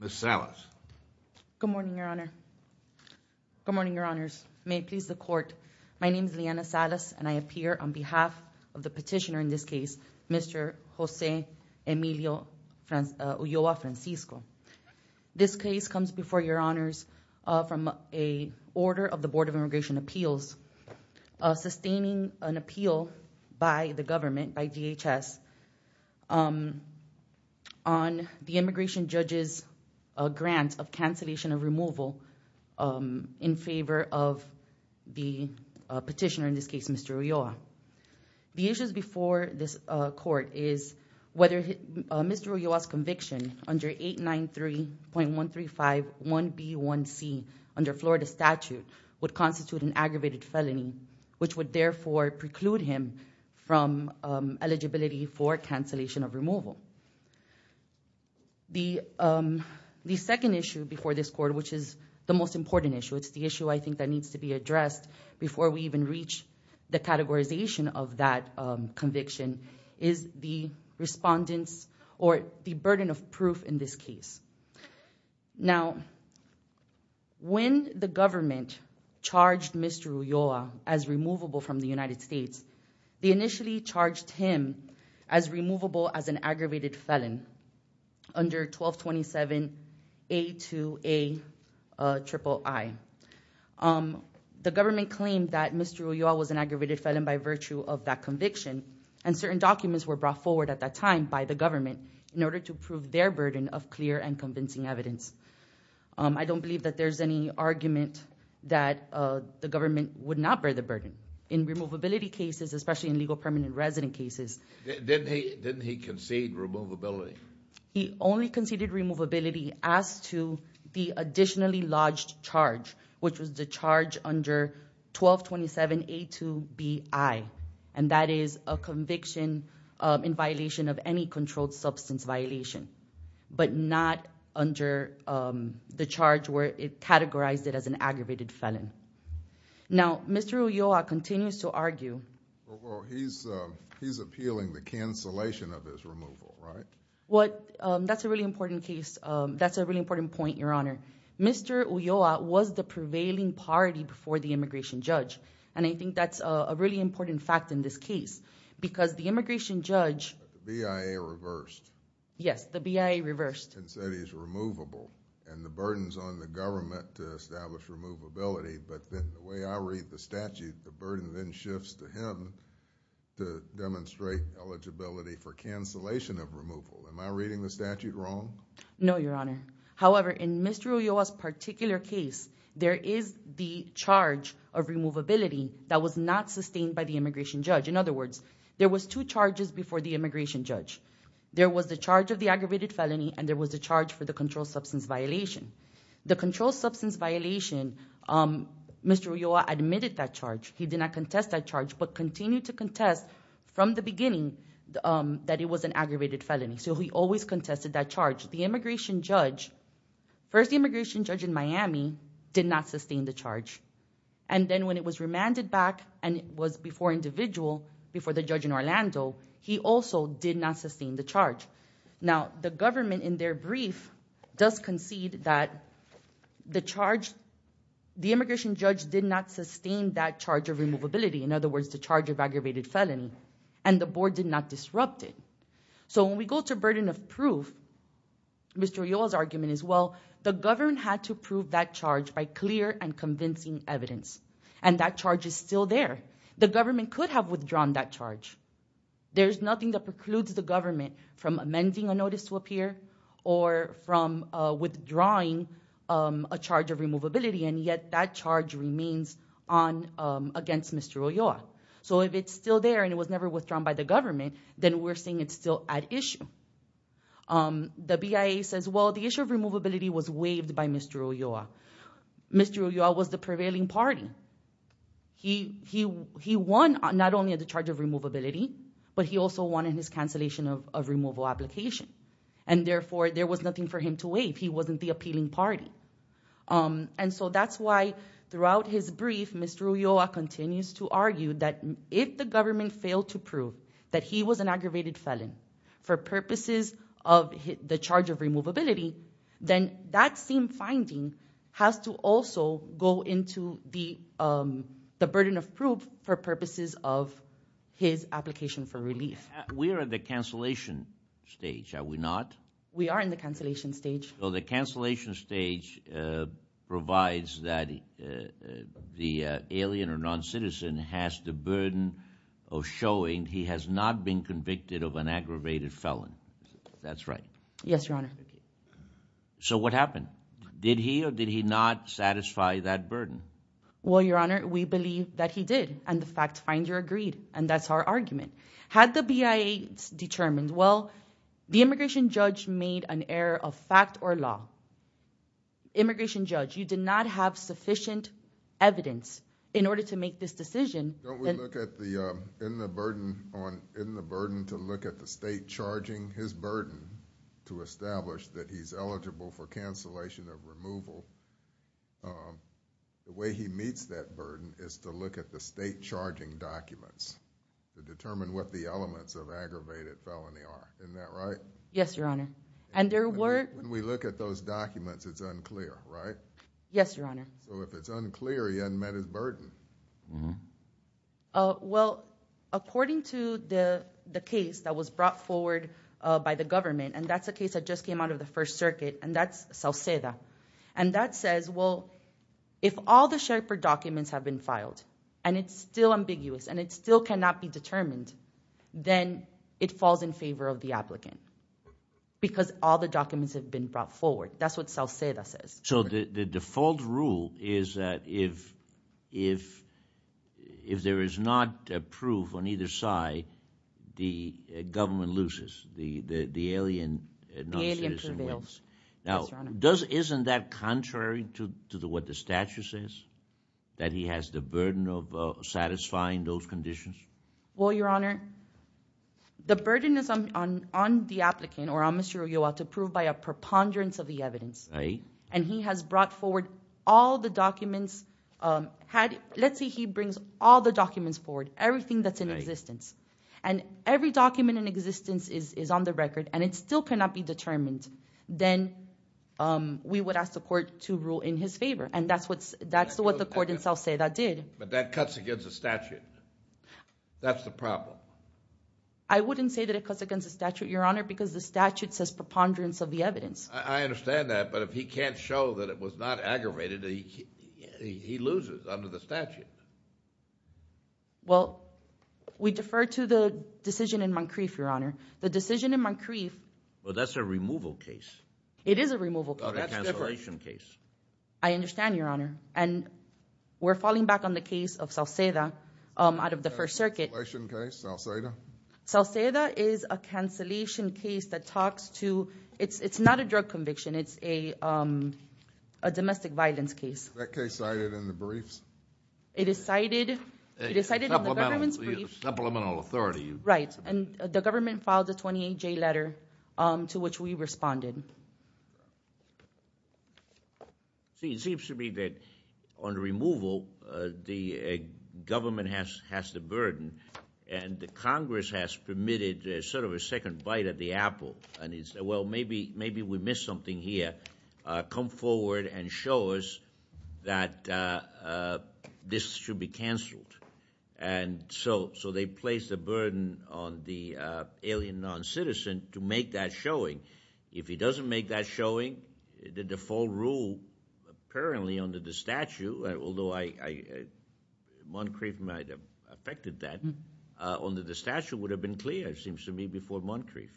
Ms. Salas Good morning, Your Honor Good morning, Your Honor. My name is Liana Salas and I appear on behalf of the petitioner in this case Mr. Jose Emilio Ulloa Francisco. This case comes before Your Honors from a order of the Board of Immigration Appeals sustaining an appeal by the government by DHS on the immigration judges grant of cancellation of removal in favor of the petitioner in this case Mr. Ulloa. The issues before this court is whether Mr. Ulloa's conviction under 893.135 1b1c under Florida statute would constitute an aggravated felony which would therefore preclude him from eligibility for cancellation of removal. The second issue before this court which is the most important issue it's the issue I think that needs to be addressed before we even reach the categorization of that conviction is the respondents or the burden of proof in this case. Now when the government charged Mr. Ulloa as removable from the United States they initially charged him as removable as an aggravated felon under 1227.82a.iii. The government claimed that Mr. Ulloa was an aggravated felon by virtue of that conviction and certain documents were brought forward at that time by the government in order to prove their burden of clear and convincing evidence. I don't believe that there's any argument that the government would not bear the burden in removability cases especially in legal permanent resident cases. Didn't he concede removability? He only conceded removability as to the additionally lodged charge which was the charge under 1227.82bi and that is a conviction in violation of any controlled substance violation but not under the charge where it categorized it as an aggravated felon. Now Mr. Ulloa continues to argue. He's appealing the cancellation of his removal, right? That's a really important case, that's a really important point, your honor. Mr. Ulloa was the prevailing party before the immigration judge and I think that's a really important fact in this case because the immigration judge said he's removable and the burden's on the government to establish removability but then the way I read the statute the burden then shifts to him to demonstrate eligibility for cancellation of removal. Am I reading the statute wrong? No, your honor. However, in Mr. Ulloa's particular case there is the charge of removability that was not sustained by the immigration judge. In other words, there was two charges before the immigration judge. There was the charge of the aggravated felony and there was a charge for the controlled substance violation. The controlled substance violation, Mr. Ulloa admitted that charge. He did not contest that charge but continued to contest from the beginning that it was an aggravated felony so he always contested that charge. The immigration judge, first the immigration judge in Miami did not sustain the charge and then when it was remanded back and it was before individual before the judge in Orlando he also did not sustain the charge. Now the government in their brief does concede that the charge the immigration judge did not sustain that charge of removability. In other words, the charge of aggravated felony and the board did not disrupt it. So when we go to burden of proof, Mr. Ulloa's and that charge is still there. The government could have withdrawn that charge. There's nothing that precludes the government from amending a notice to appear or from withdrawing a charge of removability and yet that charge remains on against Mr. Ulloa. So if it's still there and it was never withdrawn by the government then we're saying it's still at issue. The BIA says well the issue of he won not only at the charge of removability but he also won in his cancellation of removal application and therefore there was nothing for him to waive. He wasn't the appealing party and so that's why throughout his brief Mr. Ulloa continues to argue that if the government failed to prove that he was an aggravated felon for purposes of the charge of removability then that same finding has to also go into the burden of proof for purposes of his application for relief. We're at the cancellation stage, are we not? We are in the cancellation stage. So the cancellation stage provides that the alien or non-citizen has the burden of showing he has not been convicted of did he not satisfy that burden? Well your honor we believe that he did and the fact finder agreed and that's our argument. Had the BIA determined well the immigration judge made an error of fact or law. Immigration judge you did not have sufficient evidence in order to make this decision. In the burden to look at the state charging his burden to establish that he's the way he meets that burden is to look at the state charging documents to determine what the elements of aggravated felony are. Isn't that right? Yes your honor and there were. When we look at those documents it's unclear right? Yes your honor. So if it's unclear he unmet his burden. Well according to the the case that was brought forward by the government and that's a case that just came out of the First Circuit and that's Salceda and that says well if all the Sherpa documents have been filed and it's still ambiguous and it still cannot be determined then it falls in favor of the applicant because all the documents have been brought forward. That's what Salceda says. So the default rule is that if there is not proof on either side the government loses. The alien prevails. Now isn't that contrary to what the statute says that he has the burden of satisfying those conditions? Well your honor the burden is on the applicant or on Mr. Ulloa to prove by a preponderance of the evidence and he has brought forward all the documents had let's say he brings all the documents forward everything that's in existence and every document in existence is on the record and it still cannot be determined then we would ask the court to rule in his favor and that's what's that's what the court in Salceda did. But that cuts against the statute. That's the problem. I wouldn't say that it cuts against the statute your honor because the statute says preponderance of the evidence. I understand that but if he can't show that it was not aggravated he loses under the statute. Well we defer to the decision in Moncrief your honor. The decision in Moncrief. Well that's a removal case. It is a removal case. That's a cancellation case. I understand your honor and we're falling back on the case of Salceda out of the First Circuit. Salceda is a cancellation case that talks to it's it's not a drug conviction it's a domestic violence case. That case cited in the briefs. It is cited in the government's briefs. Supplemental authority. Right and the 528J letter to which we responded. It seems to me that on removal the government has has the burden and the Congress has permitted sort of a second bite at the apple and he said well maybe maybe we missed something here. Come forward and show us that this should be canceled and so so they placed a burden on the alien non-citizen to make that showing. If he doesn't make that showing the default rule apparently under the statute although I Moncrief might have affected that under the statute would have been clear it seems to me before Moncrief.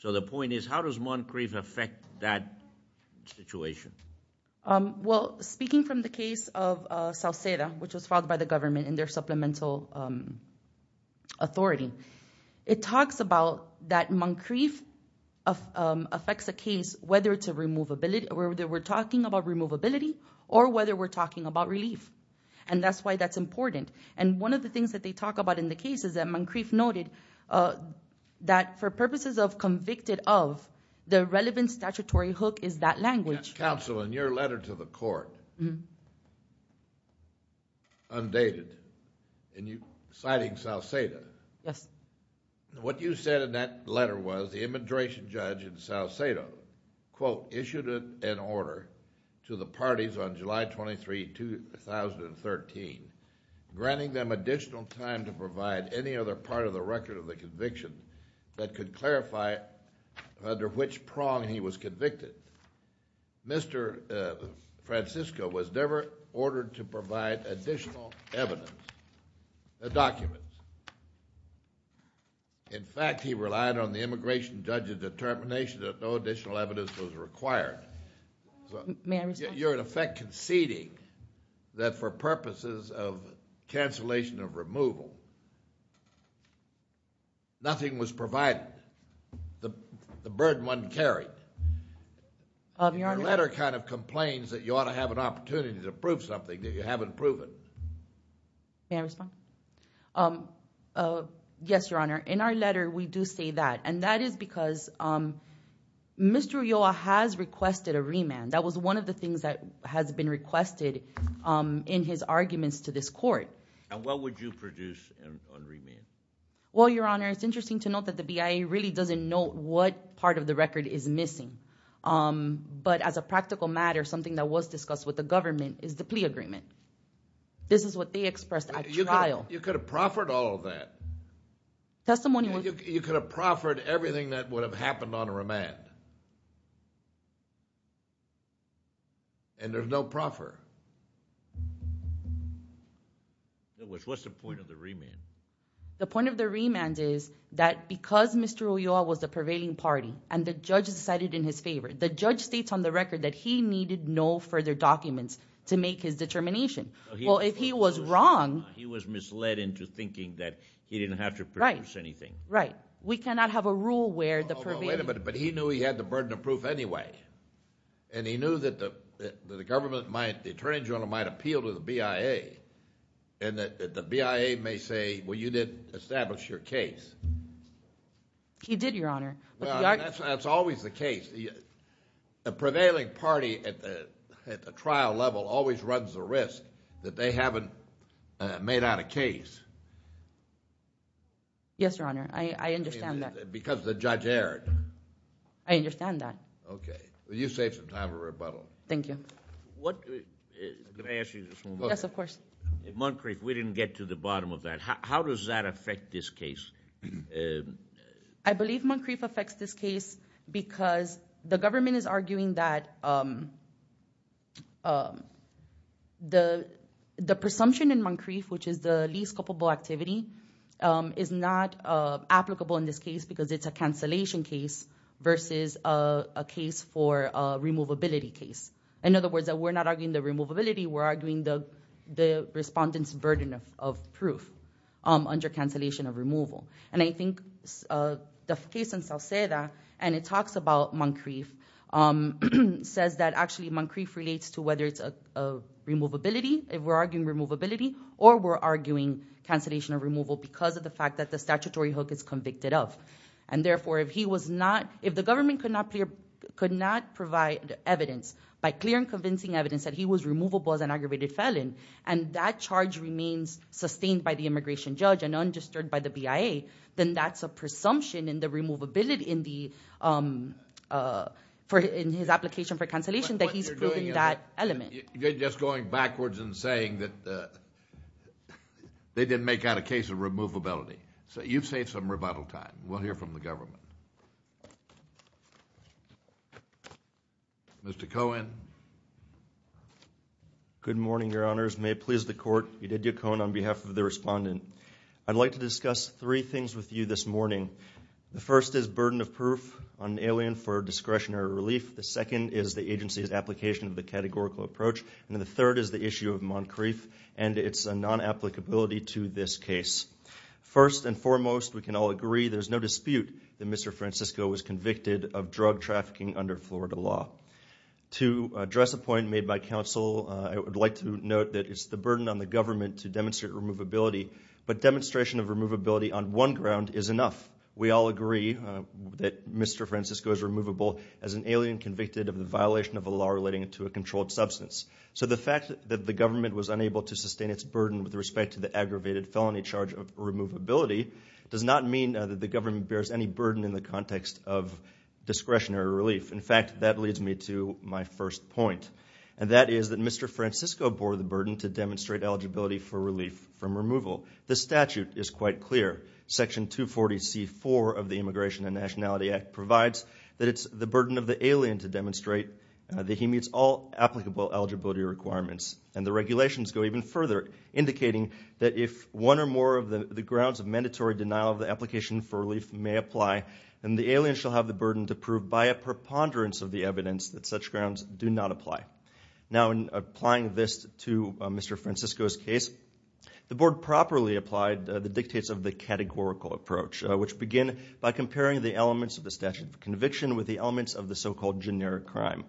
So the point is how does Moncrief affect that situation? Well speaking from the case of Salceda which was filed by the government in their supplemental authority it talks about that Moncrief affects a case whether it's a removability or whether we're talking about removability or whether we're talking about relief and that's why that's important and one of the things that they talk about in the case is that Moncrief noted that for purposes of convicted of the relevant statutory hook is that language. Counsel in your letter to the court undated and you citing Salceda. Yes. What you said in that letter was the immigration judge in Salceda quote issued an order to the parties on July 23, 2013 granting them additional time to provide any other part of the record of the conviction that could Mr. Francisco was never ordered to provide additional evidence the documents. In fact he relied on the immigration judge's determination that no additional evidence was required. You're in effect conceding that for purposes of cancellation of removal nothing was provided the burden wasn't carried. Your letter kind of complains that you ought to have an opportunity to prove something that you haven't proven. May I respond? Yes your honor in our letter we do say that and that is because Mr. Ulloa has requested a remand that was one of the things that has been requested in his arguments to this court. And what would you produce on remand? Well your honor it's but as a practical matter something that was discussed with the government is the plea agreement. This is what they expressed at trial. You could have proffered all of that. Testimony. You could have proffered everything that would have happened on a remand and there's no proffer. What's the point of the remand? The point of the remand is that because Mr. Ulloa was the judge decided in his favor. The judge states on the record that he needed no further documents to make his determination. Well if he was wrong. He was misled into thinking that he didn't have to produce anything. Right. We cannot have a rule where the. Wait a minute but he knew he had the burden of proof anyway and he knew that the government might the Attorney General might appeal to the BIA and that the BIA may say well you didn't establish your case. He did your honor. That's always the case. The prevailing party at the trial level always runs the risk that they haven't made out a case. Yes your honor. I understand that. Because the judge erred. I understand that. Okay. Well you saved some time for rebuttal. Thank you. What can I ask you? Yes of course. Moncrief we didn't get to the bottom of that. How does that affect this case? I believe Moncrief affects this case because the government is arguing that the the presumption in Moncrief which is the least culpable activity is not applicable in this case because it's a cancellation case versus a case for a removability case. In other words that we're not arguing the removability we're arguing the the respondents burden of proof under cancellation of removal. And I think the case in Salceda and it talks about Moncrief says that actually Moncrief relates to whether it's a removability if we're arguing removability or we're arguing cancellation of removal because of the fact that the statutory hook is convicted of. And therefore if he was not if the government could not clear could not provide evidence by clear and convincing evidence that he was removable as an aggravated felon and that charge remains sustained by the immigration judge and undisturbed by the removability in the for in his application for cancellation that he's proving that element. You're just going backwards and saying that they didn't make out a case of removability. So you've saved some rebuttal time. We'll hear from the government. Mr. Cohen. Good morning, Your Honors. May it please the court. Eudidio Cohen on behalf of the respondent. I'd like to discuss three things with you this morning. The first is burden of proof on alien for discretionary relief. The second is the agency's application of the categorical approach. And the third is the issue of Moncrief. And it's a non applicability to this case. First and foremost, we can all agree there's no dispute that Mr. Francisco was convicted of drug trafficking under Florida law to address a point made by counsel. I would like to note that it's the burden on the government to demonstrate removability. But is enough. We all agree that Mr. Francisco is removable as an alien convicted of the violation of a law relating to a controlled substance. So the fact that the government was unable to sustain its burden with respect to the aggravated felony charge of removability does not mean that the government bears any burden in the context of discretionary relief. In fact, that leads me to my first point. And that is that Mr. Francisco bore the burden to demonstrate eligibility for Section 240C4 of the Immigration and Nationality Act provides that it's the burden of the alien to demonstrate that he meets all applicable eligibility requirements. And the regulations go even further indicating that if one or more of the grounds of mandatory denial of the application for relief may apply, then the alien shall have the burden to prove by a preponderance of the evidence that such grounds do not apply. Now in applying this to Mr. Francisco's case, the board properly applied the dictates of the categorical approach, which begin by comparing the elements of the statute of conviction with the elements of the so-called generic crime.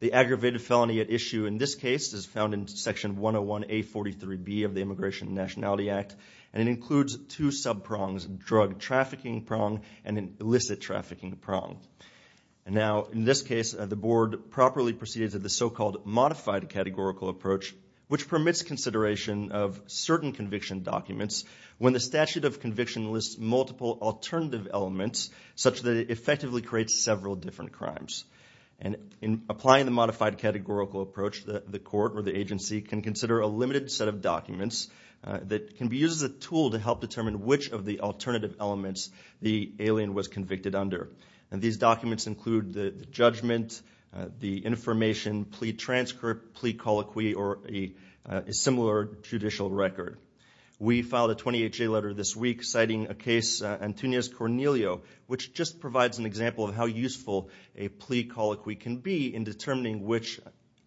The aggravated felony at issue in this case is found in Section 101A43B of the Immigration and Nationality Act and it includes two sub prongs drug trafficking prong and an illicit trafficking prong. And now in this case the board properly proceeded to the so-called modified categorical approach, which permits consideration of certain conviction documents when the statute of conviction lists multiple alternative elements such that it effectively creates several different crimes. And in applying the modified categorical approach, the court or the agency can consider a limited set of documents that can be used as a tool to help determine which of the alternative elements the alien was convicted under. And these documents include the judgment, the information, plea transcript, plea colloquy, or a similar judicial record. We filed a 28-J letter this week citing a case, Antunez-Cornelio, which just provides an example of how useful a plea colloquy can be in determining which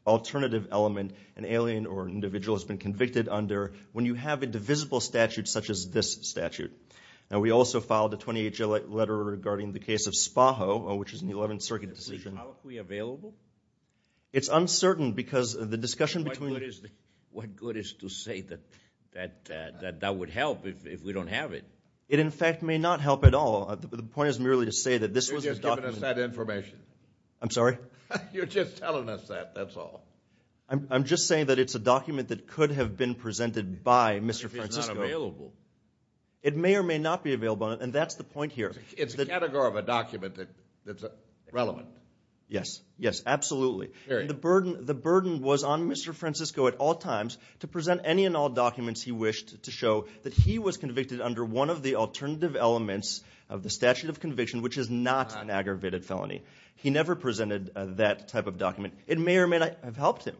alternative element an alien or individual has been convicted under when you have a divisible statute such as this statute. Now we also filed a 28-J letter regarding the case of Spaho, which is an 11th Circuit decision. Is a plea colloquy available? It's uncertain because the discussion between... What good is to say that that would help if we don't have it? It in fact may not help at all. The point is merely to say that this was... You're just giving us that information. I'm sorry? You're just telling us that, that's all. I'm just saying that it's a document that could have been presented by Mr. Francisco. If it's not available. It may or may not be available, and that's the point here. It's a category of a document that's relevant. Yes, yes, absolutely. The burden was on Mr. Francisco at all times to present any and all documents he wished to show that he was convicted under one of the alternative elements of the statute of conviction, which is not an aggravated felony. He never presented that type of document. It may or may not have helped him.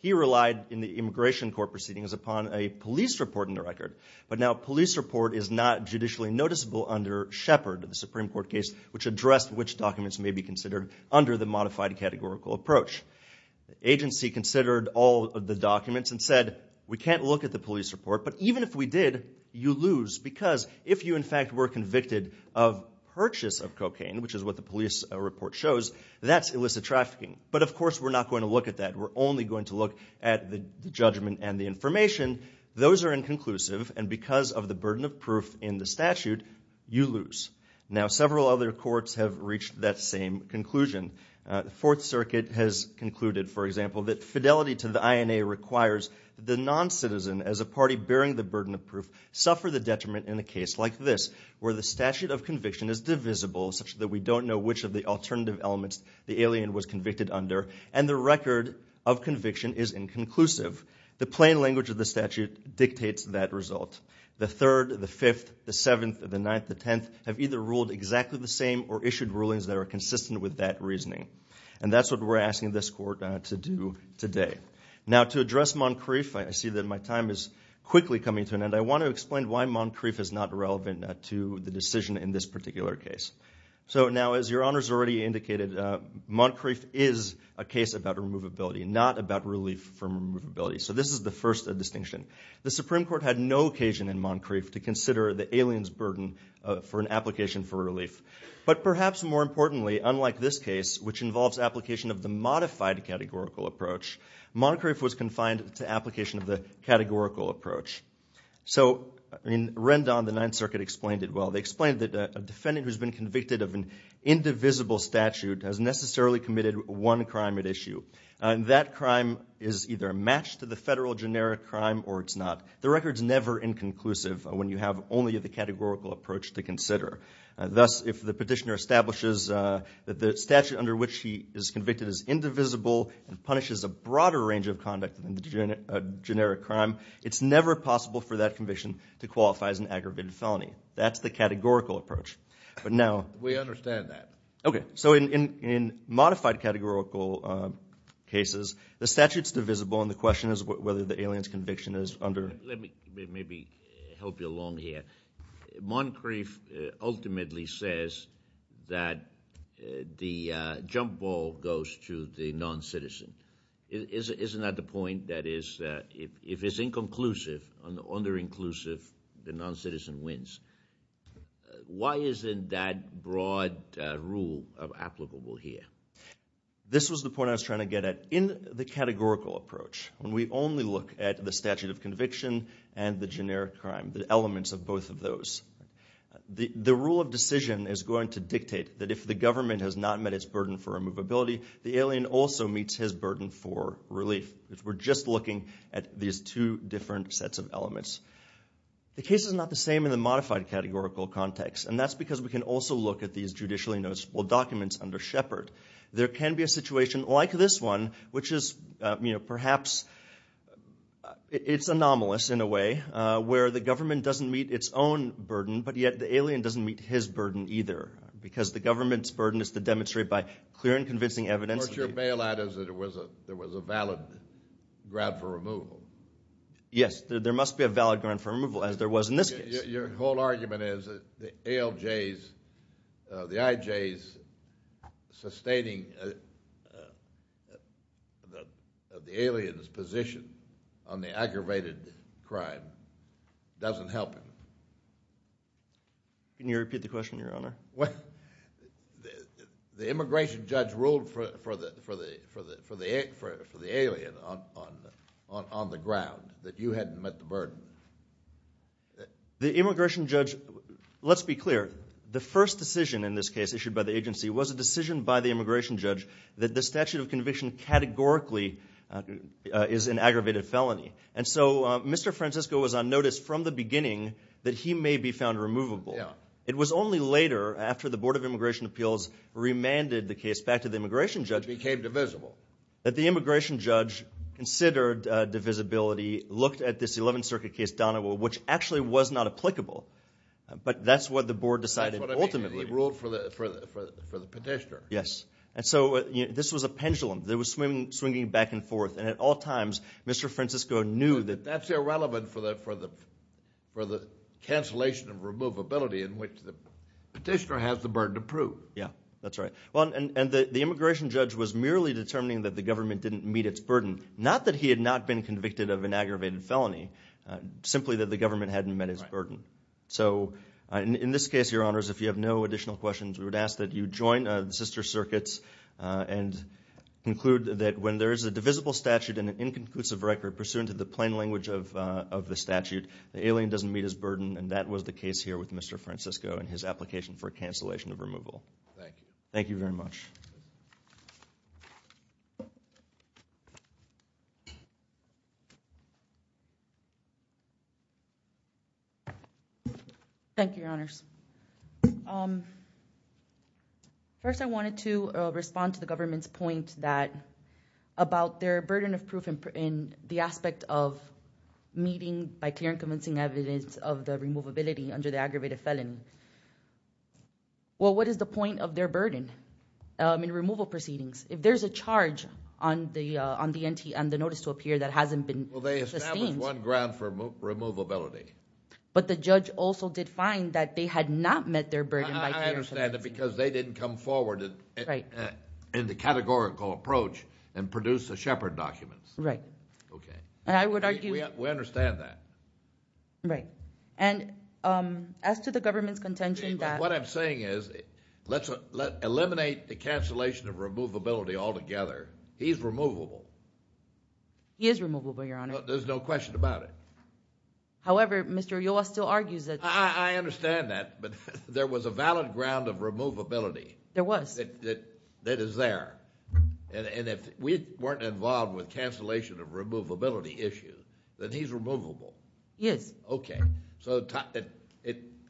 He relied in the immigration court proceedings upon a police report in the record, but now a police report is not judicially noticeable under Shepard, the Supreme Court case, which addressed which documents may be considered under the modified categorical approach. The agency considered all of the documents and said, we can't look at the police report, but even if we did, you lose because if you in fact were convicted of purchase of cocaine, which is what the police report shows, that's illicit trafficking. But of course, we're not going to look at that. We're only going to look at the judgment and the information. Those are inconclusive, and because of the burden of proof in the statute, you lose. Now, several other courts have reached that same conclusion. The Fourth Circuit has concluded, for example, that fidelity to the INA requires the non-citizen as a party bearing the burden of proof suffer the detriment in a case like this, where the statute of conviction is divisible, such that we don't know which of the alternative elements the alien was convicted under, and the record of conviction is inconclusive. The plain language of the statute dictates that result. The Third, the Fifth, the Seventh, the Ninth, the Tenth, have either ruled exactly the same or issued rulings that are consistent with that reasoning. And that's what we're asking this court to do today. Now, to address Moncrief, I see that my time is quickly coming to an end. I want to explain why Moncrief is not relevant to the decision in this particular case. So now, as your honors already indicated, Moncrief is a case about removability, not about relief from removability. So this is the first distinction. The Supreme Court had no occasion in Moncrief to consider the alien's burden for an application for relief. But perhaps more importantly, unlike this case, which involves application of the modified categorical approach, Moncrief was confined to application of the categorical approach. So in Rendon, the Ninth Circuit explained it well. They explained that a defendant who's been convicted of an indivisible statute has necessarily committed one crime at issue. That crime is either a match to the federal generic crime or it's not. The record's never inconclusive when you have only the categorical approach to consider. Thus, if the petitioner establishes that the statute under which he is convicted is indivisible and punishes a broader range of conduct than the generic crime, it's never possible for that conviction to qualify as an aggravated felony. That's the categorical approach. But now- We understand that. Okay. So in modified categorical cases, the statute's divisible, and the question is whether the alien's conviction is under- Let me maybe help you along here. Moncrief ultimately says that the jump ball goes to the non-citizen. Isn't that the point? That is, if it's inconclusive, under-inclusive, the non-citizen wins. Why isn't that broad rule applicable here? This was the point I was trying to get at. In the categorical approach, when we only look at the statute of conviction and the generic crime, the elements of both of those, the rule of decision is going to dictate that if the government has not met its burden for removability, the alien also meets his burden for relief. We're just looking at these two different sets of elements. The case is not the same in the modified categorical context, and that's because we can also look at these judicially noticeable documents under Shepard. There can be a situation like this one, which is perhaps- It's anomalous in a way, where the government doesn't meet its own burden, but yet the alien doesn't meet his burden either, because the government's burden is to demonstrate by clear and convincing evidence- What your bailout is that there was a valid grab for removal. Yes, there must be a valid grab for removal, as there was in this case. Your whole argument is that the ALJ's, the IJ's sustaining of the alien's position on the aggravated crime doesn't help him. Can you repeat the question, your honor? Well, the immigration judge ruled for the alien on the ground that you hadn't met the burden. The immigration judge- Let's be clear. The first decision in this case issued by the agency was a decision by the immigration judge that the statute of conviction categorically is an aggravated felony. And so, Mr. Francisco was on notice from the beginning that he may be found removable. It was only later, after the Board of Immigration Appeals remanded the case back to the immigration judge- It became divisible. That the immigration judge considered divisibility, looked at this 11th Circuit case down the road, which actually was not applicable. But that's what the board decided ultimately. He ruled for the petitioner. Yes. And so, this was a pendulum that was swinging back and forth. And at all times, Mr. Francisco knew that- In which the petitioner has the burden to prove. Yeah, that's right. Well, and the immigration judge was merely determining that the government didn't meet its burden. Not that he had not been convicted of an aggravated felony. Simply that the government hadn't met his burden. So, in this case, your honors, if you have no additional questions, we would ask that you join the sister circuits and conclude that when there is a divisible statute and an inconclusive record pursuant to the plain language of the statute, the alien doesn't meet his burden. And that was the case here with Mr. Francisco and his application for cancellation of removal. Thank you. Thank you very much. Thank you, your honors. First, I wanted to respond to the government's point that, about their burden of proof in the aspect of meeting by clear and convincing evidence of the removability under the aggravated felony. Well, what is the point of their burden in removal proceedings? If there's a charge on the notice to appear that hasn't been sustained- Well, they established one ground for removability. But the judge also did find that they had not met their burden by clear and convincing evidence. I understand that because they didn't come forward in the categorical approach and produce the Shepard documents. Right. Okay. And I would argue- We understand that. Right. And as to the government's contention that- What I'm saying is, let's eliminate the cancellation of removability altogether. He's removable. He is removable, your honor. There's no question about it. However, Mr. Oyola still argues that- I understand that. But there was a valid ground of removability. There was. That is there. And if we weren't involved with cancellation of removability issues, then he's removable. Yes. Okay. So the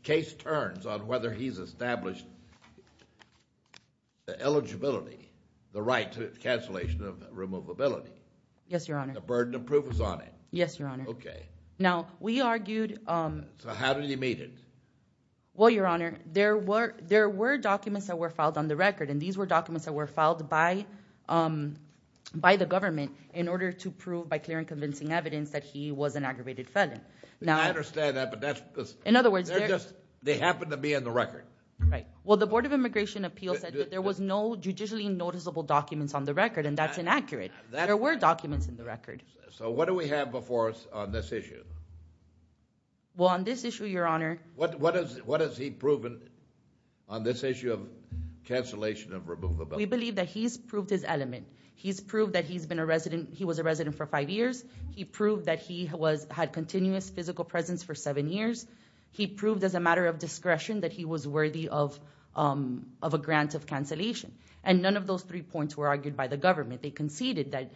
case turns on whether he's established the eligibility, the right to cancellation of removability. Yes, your honor. The burden of proof is on it. Yes, your honor. Okay. Now, we argued- So how did he meet it? Well, your honor, there were documents that were filed on the record. And these were documents that were filed by the government in order to prove by clear and convincing evidence that he was an aggravated felon. Now- I understand that, but that's because- In other words, they're just- They happen to be in the record. Right. Well, the Board of Immigration Appeals said that there was no judicially noticeable documents on the record, and that's inaccurate. There were documents in the record. So what do we have before us on this issue? Well, on this issue, your honor- What has he proven on this issue of cancellation of removability? We believe that he's proved his element. He's proved that he's been a resident- He was a resident for five years. He proved that he had continuous physical presence for seven years. He proved as a matter of discretion that he was worthy of a grant of cancellation. And none of those three points were argued by the government. They conceded that-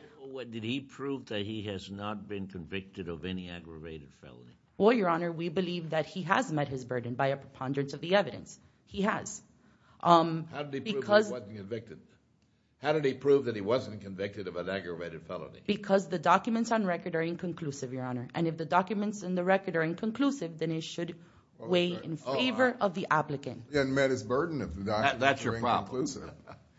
Did he prove that he has not been convicted of any aggravated felony? Well, your honor, we believe that he has met his burden by a preponderance of the evidence. He has. How did he prove he wasn't convicted? How did he prove that he wasn't convicted of an aggravated felony? Because the documents on record are inconclusive, your honor. And if the documents in the record are inconclusive, then it should weigh in favor of the applicant. He hadn't met his burden if the documents were inconclusive. That's your problem.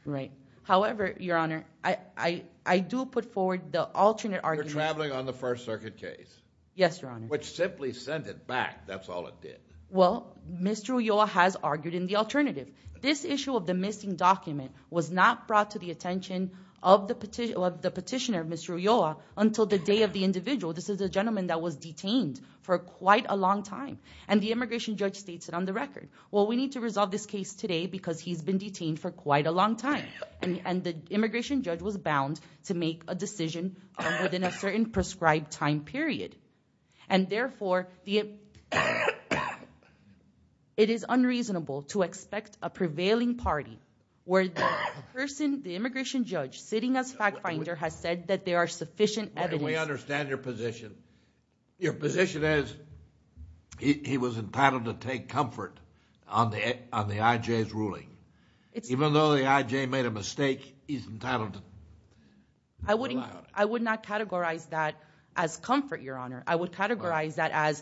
Right. However, your honor, I do put forward the alternate argument- You're traveling on the First Circuit case. Yes, your honor. Which simply sent it back. That's all it did. Well, Mr. Ulloa has argued in the alternative. This issue of the missing document was not brought to the attention of the petitioner, Mr. Ulloa, until the day of the individual. This is a gentleman that was detained for quite a long time. And the immigration judge states it on the record. Well, we need to resolve this case today because he's been detained for quite a long time. And the immigration judge was bound to make a decision within a certain prescribed time period. And therefore, it is unreasonable to expect a prevailing party where the person, the immigration judge, sitting as fact finder, has said that there are sufficient evidence- We understand your position. Your position is he was entitled to take comfort on the IJ's ruling. Even though the IJ made a mistake, he's entitled to- I would not categorize that as comfort, your honor. I would categorize that as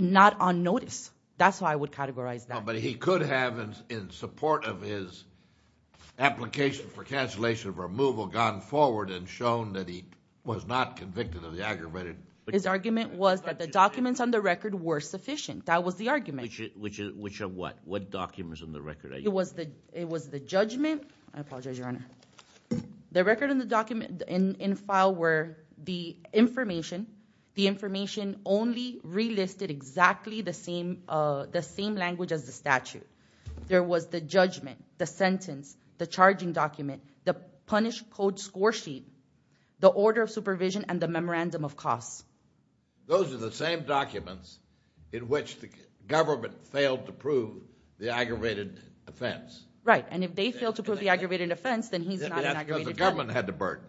not on notice. That's how I would categorize that. But he could have, in support of his application for cancellation of removal, gone forward and shown that he was not convicted of the aggravated- His argument was that the documents on the record were sufficient. That was the argument. Which are what? What documents on the record? It was the judgment. I apologize, your honor. The record and the document in file were the information. The information only relisted exactly the same language as the statute. There was the judgment, the sentence, the charging document, the punish code score sheet, the order of supervision, and the memorandum of costs. Those are the same documents in which the government failed to prove the aggravated offense. Right. If they fail to prove the aggravated offense, then he's not an aggravated felon. Because the government had the burden.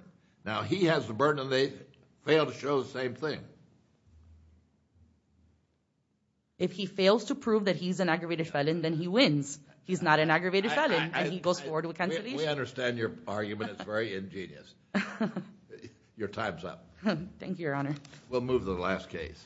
Now, he has the burden and they fail to show the same thing. If he fails to prove that he's an aggravated felon, then he wins. He's not an aggravated felon and he goes forward with cancellation. We understand your argument. It's very ingenious. Your time's up. Thank you, your honor. We'll move to the last case.